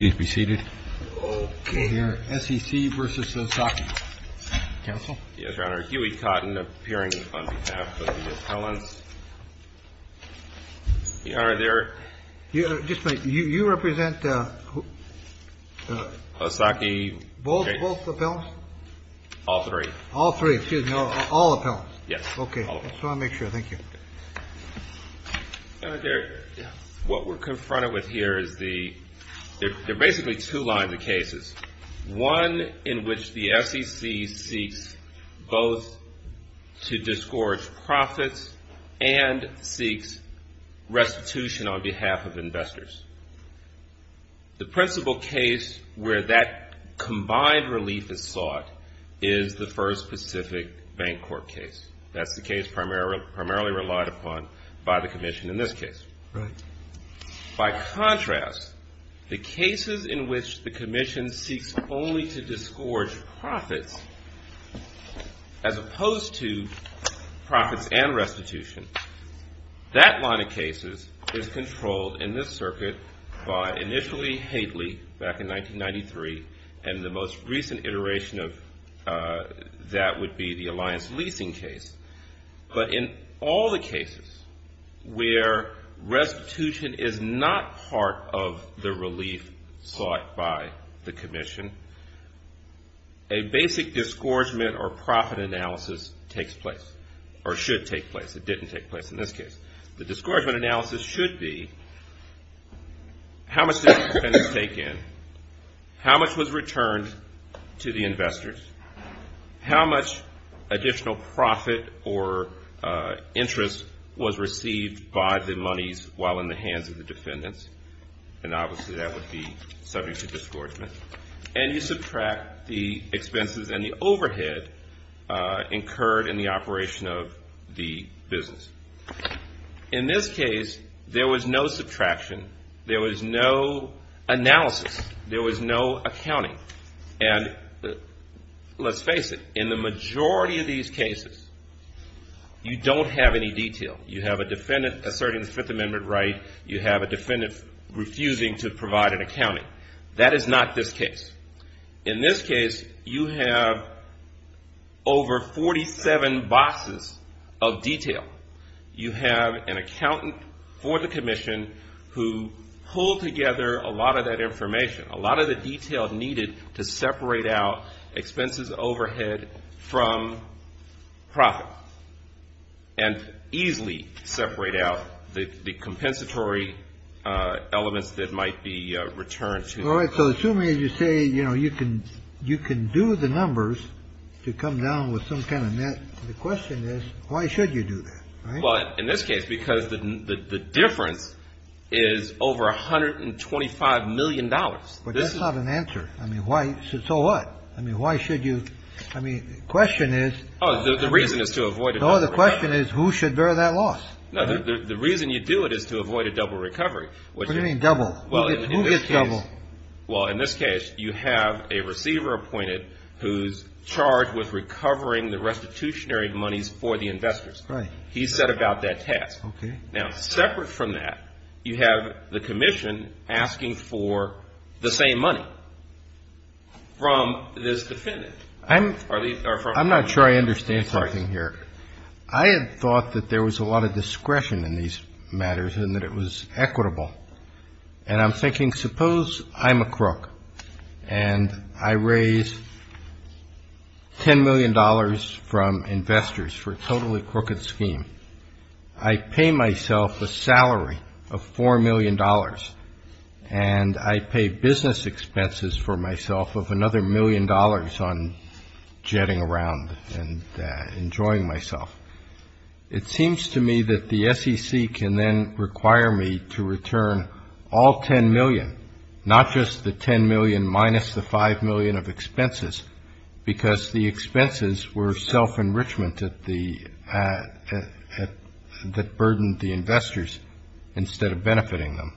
Yes, Your Honor. Huey Cotton appearing on behalf of the appellants. Your Honor, they're Just a minute. You represent OSAKI? Both appellants? All three. All three. Excuse me. All appellants. Yes. Okay. I just want to make sure. Thank you. What we're confronted with here is the, there are basically two lines of cases. One in which the SEC seeks both to disgorge profits and seeks restitution on behalf of investors. The principal case where that combined relief is sought is the commission in this case. By contrast, the cases in which the commission seeks only to disgorge profits as opposed to profits and restitution, that line of cases is controlled in this circuit by initially Haitley back in 1993 and the most recent iteration of that would be the alliance leasing case. But in all the cases where restitution is not part of the relief sought by the commission, a basic disgorgement or profit analysis takes place or should take place. It didn't take place in this case. The disgorgement analysis should be how much did the defendants take in? How much was returned to the investors? How much additional profit or interest was received by the monies while in the hands of the defendants? And obviously that would be subject to disgorgement. And you subtract the subtraction. There was no analysis. There was no accounting. And let's face it, in the majority of these cases, you don't have any detail. You have a defendant asserting the Fifth Amendment right. You have a defendant refusing to provide an accounting. That is not this case. In this commission who pulled together a lot of that information, a lot of the detail needed to separate out expenses overhead from profit and easily separate out the compensatory elements that might be returned to. So assuming you say, you know, you can you can do the numbers to come down with some kind of net. The question is, why should you do that? Well, in this case, because the difference is over 125 million dollars. But that's not an answer. I mean, why? So what? I mean, why should you? I mean, the question is, oh, the reason is to avoid it. Oh, the question is, who should bear that loss? The reason you do it is to avoid a double recovery. Well, in this case, you have a receiver appointed who's charged with recovering the restitutionary monies for the investors. He set about that task. Now, separate from that, you have the commission asking for the same money from this defendant. I'm not sure I understand something here. I had thought that there was a lot of discretion in these matters and that it was equitable. And I'm thinking, suppose I'm a crook and I raise ten million dollars from investors for a totally crooked scheme. I pay myself a salary of four million dollars and I pay business expenses for million dollars on jetting around and enjoying myself. It seems to me that the SEC can then require me to return all ten million, not just the ten million minus the five million of expenses, because the expenses were self-enrichment that burdened the investors instead of benefiting them.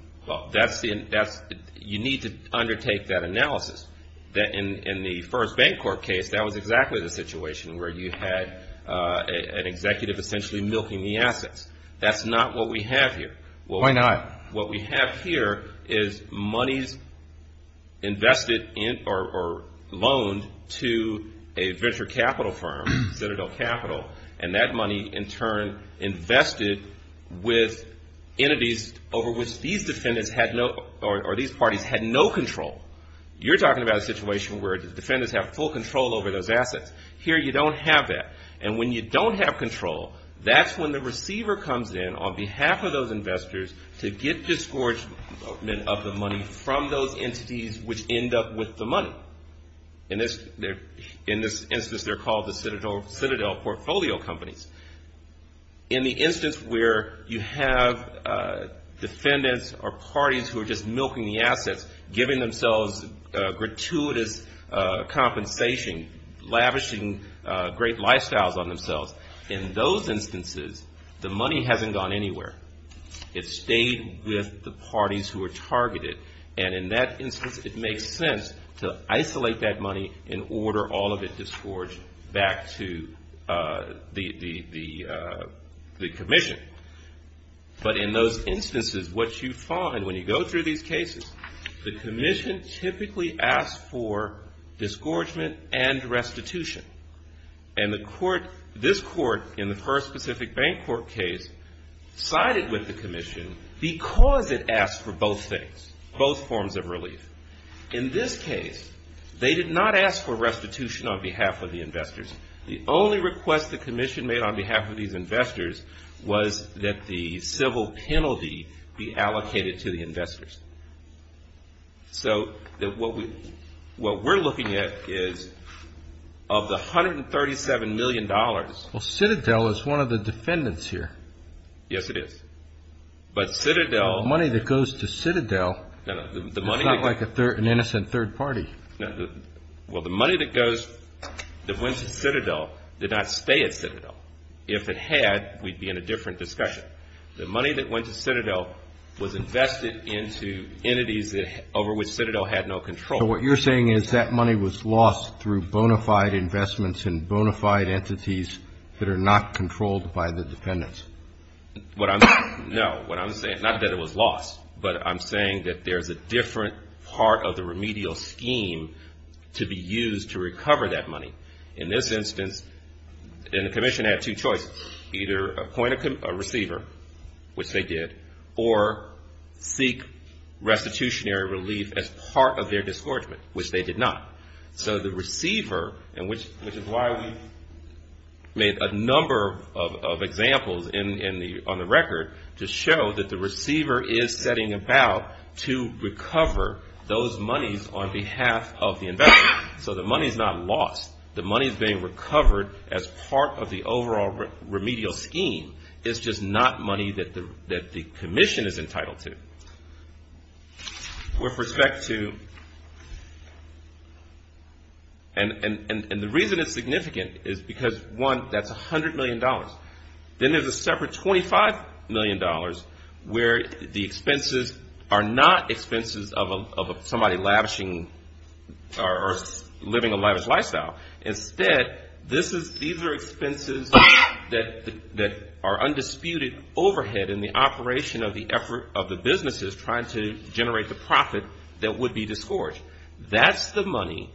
You need to undertake that analysis. In the first bank court case, that was exactly the situation where you had an executive essentially milking the assets. That's not what we have here. Why not? What we have here is monies invested or loaned to a venture capital firm, Citadel Capital, and that money in turn invested with entities over which these defendants or these parties had no control. You're talking about a situation where the defendants have full control over those assets. Here you don't have that. And when you don't have control, that's when the receiver comes in on behalf of those investors to get disgorgement of the money from those entities which end up with the money. In this instance, they're called the Citadel portfolio companies. In the instance where you have defendants or parties who are just milking the assets, giving themselves gratuitous compensation, lavishing great lifestyles on themselves, in those instances, the money hasn't gone anywhere. It's stayed with the parties who are targeted. And in that instance, it makes sense to isolate that money and order all of it disgorged back to the commission. But in those instances, what you find when you go through these cases, the commission typically asks for disgorgement and restitution. And the court, this court in the first Pacific Bank Court case, sided with the commission because it asked for both things, both forms of relief. In this case, they did not ask for restitution on behalf of the investors. The only request the commission made on behalf of these investors was that the civil penalty be allocated to the investors. So what we're looking at is of the $137 million. Well, Citadel is one of the defendants here. Yes, it is. But Citadel. The money that goes to Citadel is not like an innocent third party. Well, the money that went to Citadel did not stay at Citadel. If it had, we'd be in a different discussion. The money that went to Citadel was invested into entities over which Citadel had no control. So what you're saying is that money was lost through bona fide investments and bona fide entities that are not controlled by the defendants. No, what I'm saying, not that it was lost, but I'm saying that there's a different part of the remedial scheme to be used to recover that money. In this instance, and the commission had two choices, either appoint a receiver, which they did, or seek restitutionary relief as part of their disgorgement, which they did not. So the receiver, which is why we made a number of examples on the record to show that the receiver is setting about to recover those monies on behalf of the investor. So the money is not lost. The money is being recovered as part of the overall remedial scheme. It's just not money that the commission is entitled to. With respect to, and the reason it's significant is because, one, that's $100 million. Then there's a separate $25 million where the expenses are not expenses of somebody lavishing or living a lavish lifestyle. Instead, these are expenses that are undisputed overhead in the operation of the effort of the business unit. The business is trying to generate the profit that would be disgorged. That's the money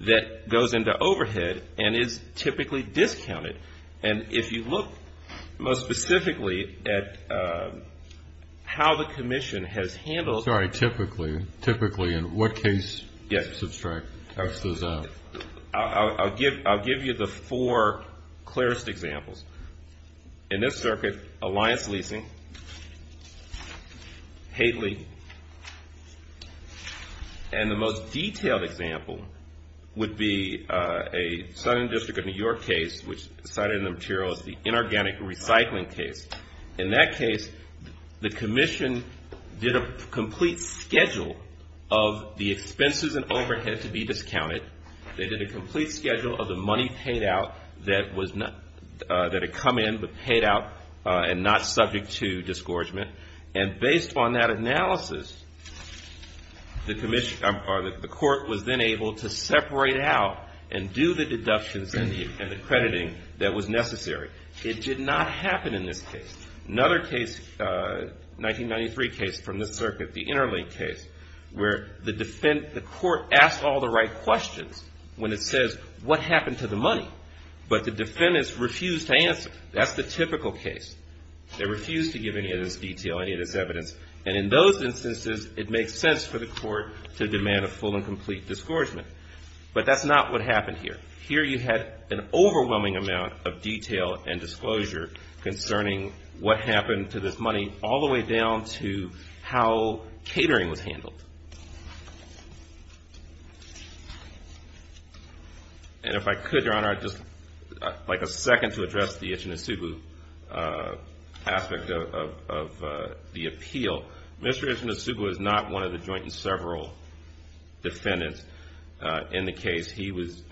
that goes into overhead and is typically discounted. And if you look most specifically at how the commission has handled... Sorry, typically. Typically in what case? I'll give you the four clearest examples. In this circuit, Alliance Leasing, Haitley, and the most detailed example would be a Southern District of New York case, which cited in the material as the inorganic recycling case. In that case, the commission did a complete schedule of the expenses and overhead to be discounted. They did a complete schedule of the money paid out that had come in but paid out and not subject to disgorgement. And based on that analysis, the court was then able to separate out and do the deductions and the crediting that was necessary. It did not happen in this case. Another case, 1993 case from this circuit, the Interlink case, where the court asked all the right questions when it says, what happened to the money? But the defendants refused to answer. That's the typical case. They refused to give any of this detail, any of this evidence. And in those instances, it makes sense for the court to demand a full and complete disgorgement. But that's not what happened here. Here you had an overwhelming amount of detail and disclosure concerning what happened to this money, all the way down to how catering was handled. And if I could, Your Honor, just like a second to address the Ichinosubu aspect of the appeal. Mr. Ichinosubu is not one of the joint and several defendants. In the case, he was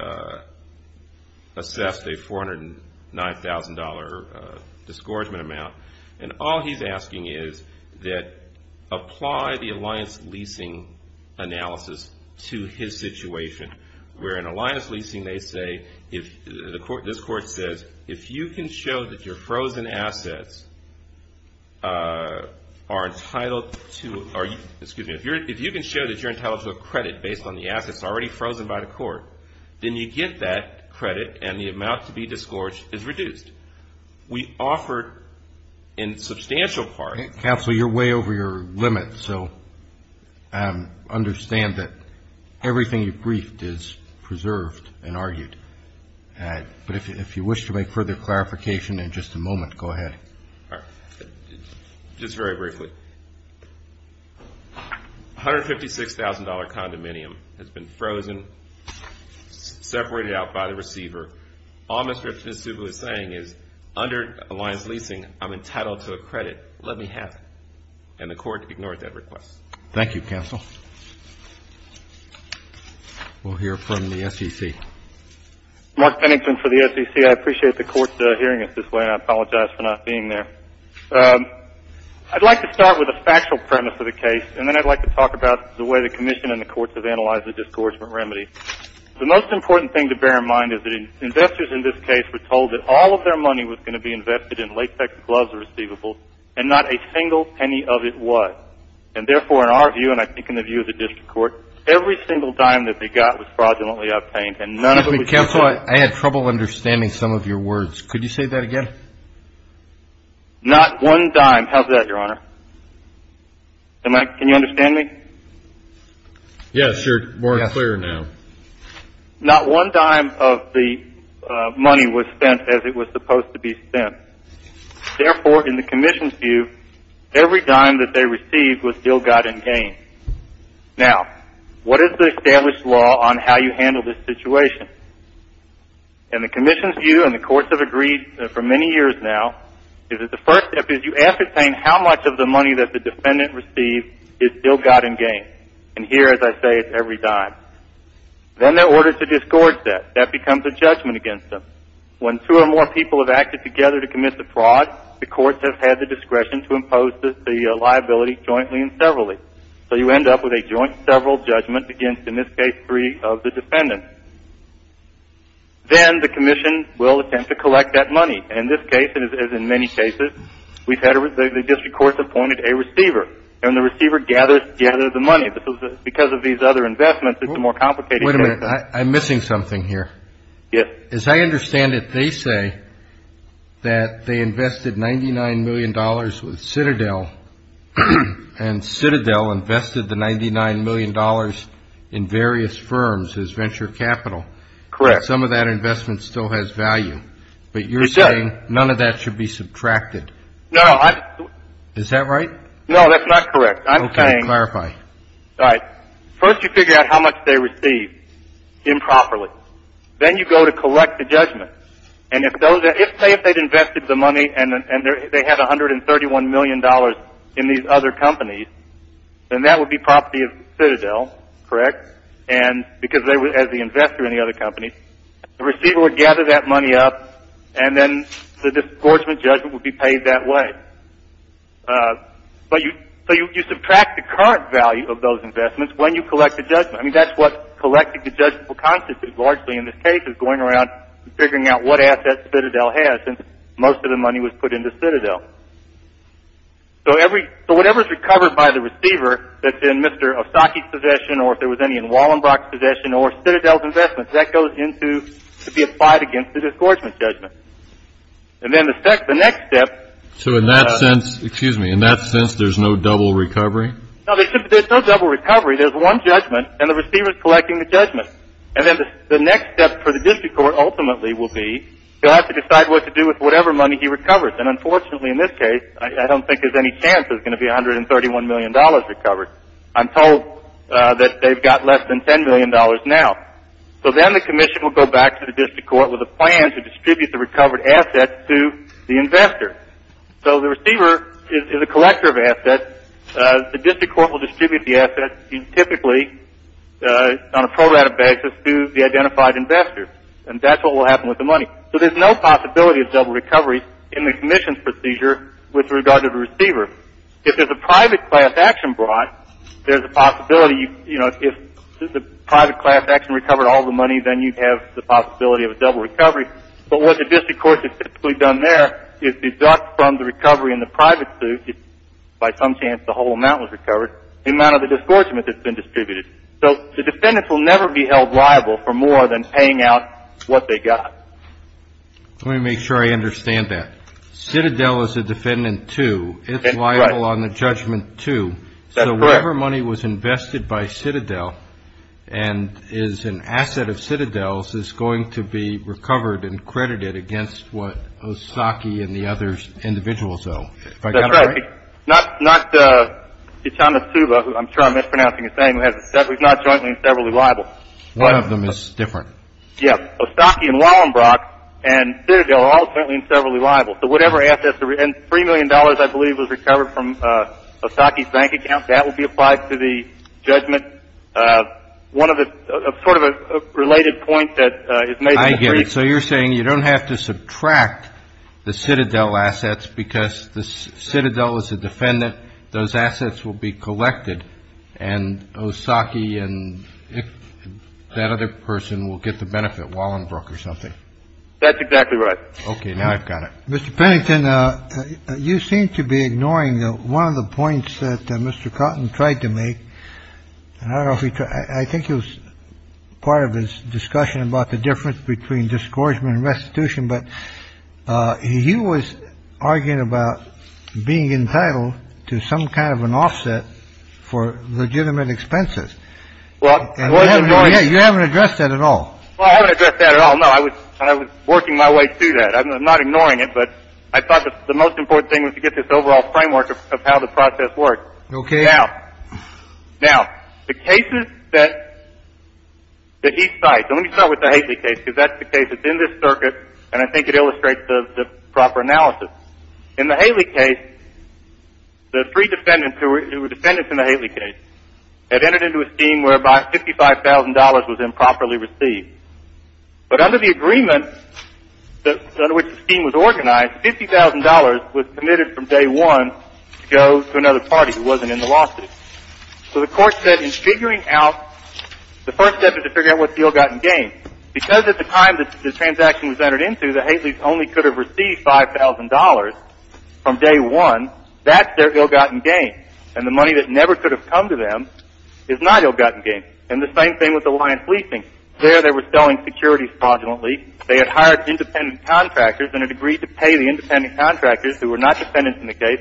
assessed a $409,000 disgorgement amount. And all he's asking is that apply the alliance leasing analysis to his situation. Where in alliance leasing, they say, this court says, if you can show that you're entitled to a credit based on the assets already frozen, then you get that credit and the amount to be disgorged is reduced. We offer, in substantial part of the case, Counsel, you're way over your limit. So understand that everything you've briefed is preserved and argued. But if you wish to make further clarification in just a moment, go ahead. All right. Just very briefly. $156,000 condominium has been frozen. Separated out by the receiver. All Mr. Ichinosubu is saying is, under alliance leasing, I'm entitled to a credit. Let me have it. And the court ignored that request. Thank you, Counsel. We'll hear from the SEC. Mark Pennington for the SEC. I appreciate the court hearing us this way, and I apologize for not being there. I'd like to start with a factual premise of the case, and then I'd like to talk about the way the commission and the courts have analyzed the case. The most important thing to bear in mind is that investors in this case were told that all of their money was going to be invested in latex gloves or receivables, and not a single penny of it was. And therefore, in our view, and I think in the view of the district court, every single dime that they got was fraudulently obtained, and none of it was used. Excuse me, Counsel. I had trouble understanding some of your words. Could you say that again? Not one dime. How's that, Your Honor? Can you understand me? Yes, Your Honor. More clear now. Not one dime of the money was spent as it was supposed to be spent. Therefore, in the commission's view, every dime that they received was ill-gotten gain. Now, what is the established law on how you handle this situation? In the commission's view, and the courts have agreed for many years now, the first step is you ascertain how much of the money that the defendant received is ill-gotten gain. And here, as I say, it's every dime. Then they're ordered to discourage that. That becomes a judgment against them. When two or more people have acted together to commit the fraud, the courts have had the discretion to impose the liability jointly and severally. So you end up with a joint several judgment against, in this case, three of the defendants. Then the commission will attempt to collect that money. In this case, as in many cases, the district courts appointed a receiver, and the receiver gathers the money. Because of these other investments, it's a more complicated case. Wait a minute. I'm missing something here. As I understand it, they say that they invested $99 million with Citadel, and Citadel invested the $99 million in various firms as venture capital. Correct. But some of that investment still has value. But you're saying none of that should be subtracted. Is that right? No, that's not correct. I'm saying first you figure out how much they received improperly. Then you go to collect the judgment. Say if they'd invested the money and they had $131 million in these other companies, then that would be property of Citadel, correct? Because as the investor in the other companies, the receiver would gather that money up, and then the disgorgement judgment would be paid that way. So you subtract the current value of those investments when you collect the judgment. I mean, that's what collecting the judgment will constitute largely in this case, is going around and figuring out what assets Citadel has, since most of the money was put into Citadel. So whatever is recovered by the receiver that's in Mr. Osaki's possession, or if there was any in Wallenbrock's possession, or Citadel's investments, that goes in to be applied against the disgorgement judgment. And then the next step — So in that sense, excuse me, in that sense, there's no double recovery? No, there's no double recovery. There's one judgment, and the receiver's collecting the judgment. And then the next step for the district court ultimately will be, he'll have to decide what to do with whatever money he recovers. And unfortunately in this case, I don't think there's any chance there's going to be $131 million recovered. I'm told that they've got less than $10 million now. So then the commission will go back to the district court with a plan to distribute the recovered assets to the investor. So the receiver is a collector of assets. The district court will distribute the assets, typically on a pro rata basis, to the identified investor. And that's what will happen with the money. So there's no possibility of double recovery in the commission's procedure with regard to the receiver. If there's a private class action brought, there's a possibility, you know, if the private class action recovered all the money, then you'd have the possibility of a double recovery. But what the district court has typically done there is deduct from the recovery in the private suit, if by some chance the whole amount was recovered, the amount of the disgorgement that's been distributed. So the defendants will never be held liable for more than paying out what they got. Let me make sure I understand that. Citadel is a defendant too. That's correct. So whatever money was invested by Citadel and is an asset of Citadel's is going to be recovered and credited against what Osaki and the other individuals owe. If I got that right? That's right. It's not, I'm sure I'm mispronouncing his name. He's not jointly and severally liable. One of them is different. Yes. Osaki and Wallenbrock and Citadel are all jointly and severally liable. And $3 million, I believe, was recovered from Osaki's bank account. That will be applied to the judgment. One of the, sort of a related point that is made. I get it. So you're saying you don't have to subtract the Citadel assets because Citadel is a defendant. Those assets will be collected, and Osaki and that other person will get the benefit, Wallenbrock or something. That's exactly right. OK, now I've got it. Mr. Pennington, you seem to be ignoring one of the points that Mr. Cotton tried to make. I think it was part of his discussion about the difference between discouragement and restitution. But he was arguing about being entitled to some kind of an offset for legitimate expenses. Well, you haven't addressed that at all. I haven't addressed that at all. Well, no, I was working my way through that. I'm not ignoring it, but I thought the most important thing was to get this overall framework of how the process works. OK. Now, the cases that he cites, and let me start with the Haley case, because that's the case that's in this circuit, and I think it illustrates the proper analysis. In the Haley case, the three defendants who were defendants in the Haley case had entered into a scheme whereby $55,000 was improperly received. But under the agreement under which the scheme was organized, $50,000 was committed from day one to go to another party who wasn't in the lawsuit. So the court said in figuring out, the first step is to figure out what's the ill-gotten gain. Because at the time the transaction was entered into, the Haley's only could have received $5,000 from day one. That's their ill-gotten gain. And the money that never could have come to them is not ill-gotten gain. And the same thing with Alliance Leasing. There they were selling securities fraudulently. They had hired independent contractors and had agreed to pay the independent contractors, who were not defendants in the case,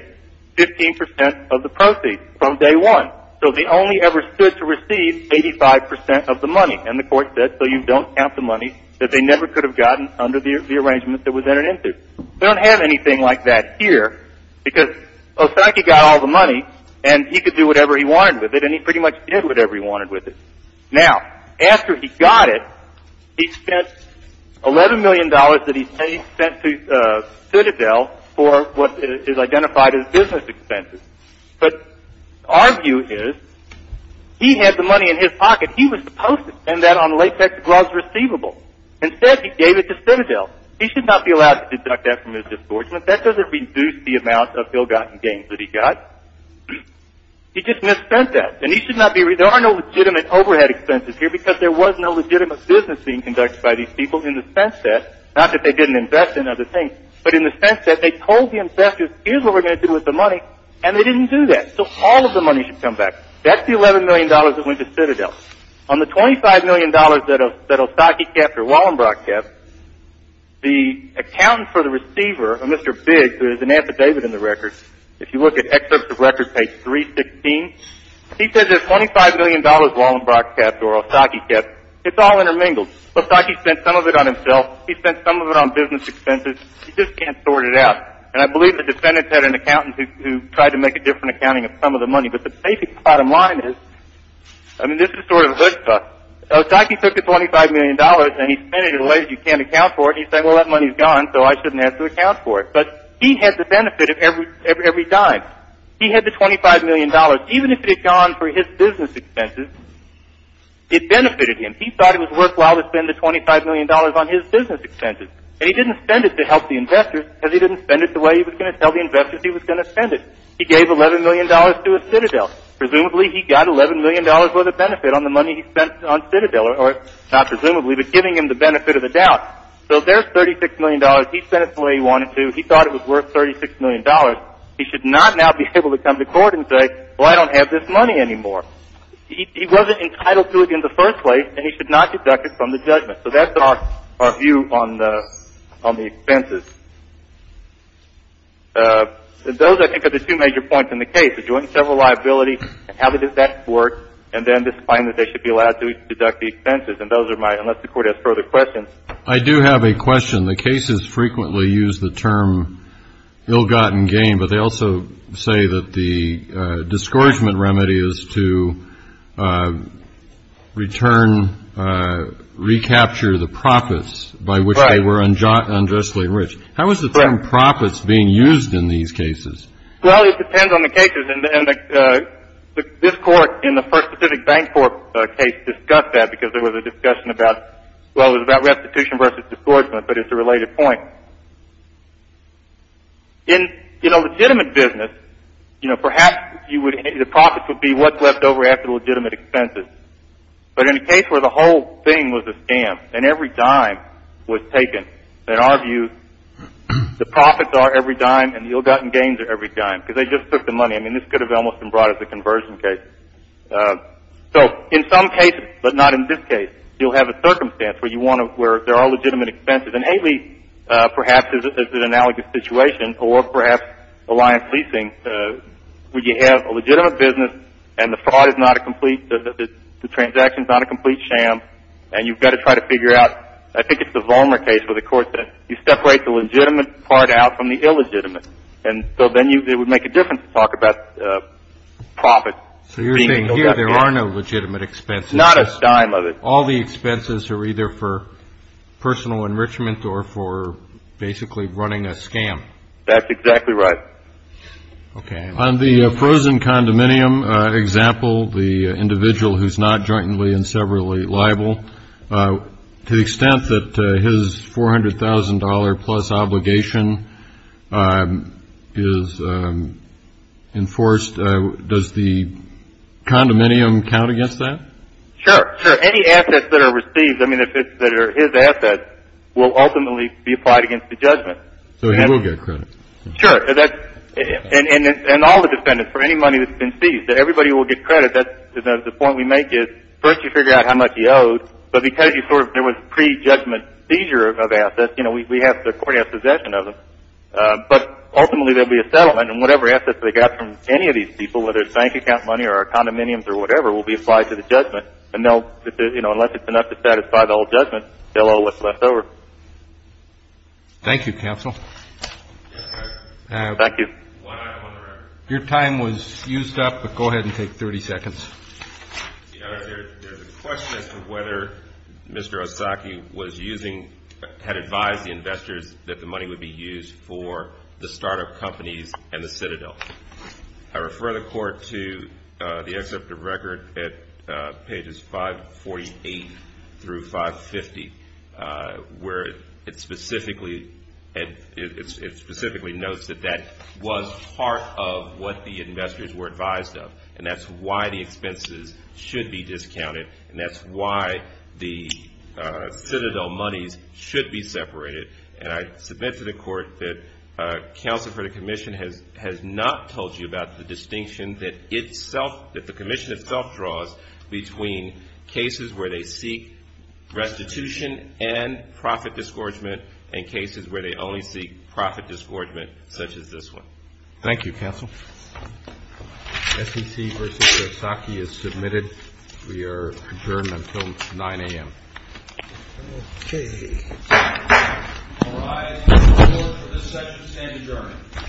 15 percent of the proceeds from day one. So they only ever stood to receive 85 percent of the money. And the court said, so you don't count the money that they never could have gotten under the arrangement that was entered into. We don't have anything like that here, because Osaki got all the money, and he could do whatever he wanted with it, and he pretty much did whatever he wanted with it. Now, after he got it, he spent $11 million that he spent to Citadel for what is identified as business expenses. But our view is he had the money in his pocket. He was supposed to spend that on latex gloves receivable. Instead, he gave it to Citadel. He should not be allowed to deduct that from his disbursement. That doesn't reduce the amount of ill-gotten gains that he got. He just misspent that. And he should not be – there are no legitimate overhead expenses here, because there was no legitimate business being conducted by these people in the sense that – not that they didn't invest in other things, but in the sense that they told the investors, here's what we're going to do with the money, and they didn't do that. So all of the money should come back. That's the $11 million that went to Citadel. Now, on the $25 million that Osaki kept or Wallenbrock kept, the accountant for the receiver, Mr. Bigg, who is an affidavit in the record, if you look at excerpts of record page 316, he says there's $25 million Wallenbrock kept or Osaki kept. It's all intermingled. Osaki spent some of it on himself. He spent some of it on business expenses. He just can't sort it out. And I believe the defendants had an accountant who tried to make a different accounting of some of the money. But the basic bottom line is – I mean, this is sort of a hood stuff. Osaki took the $25 million, and he spent it in ways you can't account for, and he said, well, that money's gone, so I shouldn't have to account for it. But he had the benefit of every dime. He had the $25 million. Even if it had gone for his business expenses, it benefited him. He thought it was worthwhile to spend the $25 million on his business expenses. And he didn't spend it to help the investors, because he didn't spend it the way he was going to tell the investors he was going to spend it. He gave $11 million to a Citadel. Presumably, he got $11 million worth of benefit on the money he spent on Citadel, or not presumably, but giving him the benefit of the doubt. So there's $36 million. He spent it the way he wanted to. He thought it was worth $36 million. He should not now be able to come to court and say, well, I don't have this money anymore. He wasn't entitled to it in the first place, and he should not deduct it from the judgment. So that's our view on the expenses. Those, I think, are the two major points in the case, the joint and several liabilities, and how to do that in court, and then this claim that they should be allowed to deduct the expenses. And those are my – unless the Court has further questions. I do have a question. The cases frequently use the term ill-gotten gain, but they also say that the discouragement remedy is to return – How is the term profits being used in these cases? Well, it depends on the cases. And this Court, in the first Pacific Bank Court case, discussed that because there was a discussion about – well, it was about restitution versus discouragement, but it's a related point. In a legitimate business, perhaps the profits would be what's left over after legitimate expenses. But in a case where the whole thing was a scam and every dime was taken, in our view, the profits are every dime and the ill-gotten gains are every dime because they just took the money. I mean, this could have almost been brought as a conversion case. So in some cases, but not in this case, you'll have a circumstance where you want to – where there are legitimate expenses. And Haley, perhaps, is an analogous situation, or perhaps Alliance Leasing, where you have a legitimate business and the fraud is not a complete – the transaction is not a complete sham, and you've got to try to figure out – I think it's the Vollmer case where the Court said you separate the legitimate part out from the illegitimate. And so then it would make a difference to talk about profits being ill-gotten gains. So you're saying here there are no legitimate expenses. Not a dime of it. All the expenses are either for personal enrichment or for basically running a scam. That's exactly right. Okay. On the frozen condominium example, the individual who's not jointly and severally liable, to the extent that his $400,000-plus obligation is enforced, does the condominium count against that? Sure. Sure. Any assets that are received, I mean, that are his assets, will ultimately be applied against the judgment. So he will get credit. Sure. And all the defendants, for any money that's been seized, everybody will get credit. The point we make is first you figure out how much you owed, but because there was pre-judgment seizure of assets, the Court has possession of them. But ultimately there will be a settlement, and whatever assets they got from any of these people, whether it's bank account money or condominiums or whatever, will be applied to the judgment. And unless it's enough to satisfy the whole judgment, they'll owe what's left over. Thank you, Counsel. Thank you. Your time was used up, but go ahead and take 30 seconds. There's a question as to whether Mr. Osaki was using, had advised the investors that the money would be used for the startup companies and the Citadel. I refer the Court to the excerpt of record at pages 548 through 550, where it specifically notes that that was part of what the investors were advised of, and that's why the expenses should be discounted, and that's why the Citadel monies should be separated. And I submit to the Court that Counsel for the Commission has not told you about the distinction that itself, that the Commission itself draws between cases where they seek restitution and profit disgorgement and cases where they only seek profit disgorgement, such as this one. Thank you, Counsel. SEC v. Mr. Osaki is submitted. We are adjourned until 9 a.m. Okay. All rise. Court is adjourned.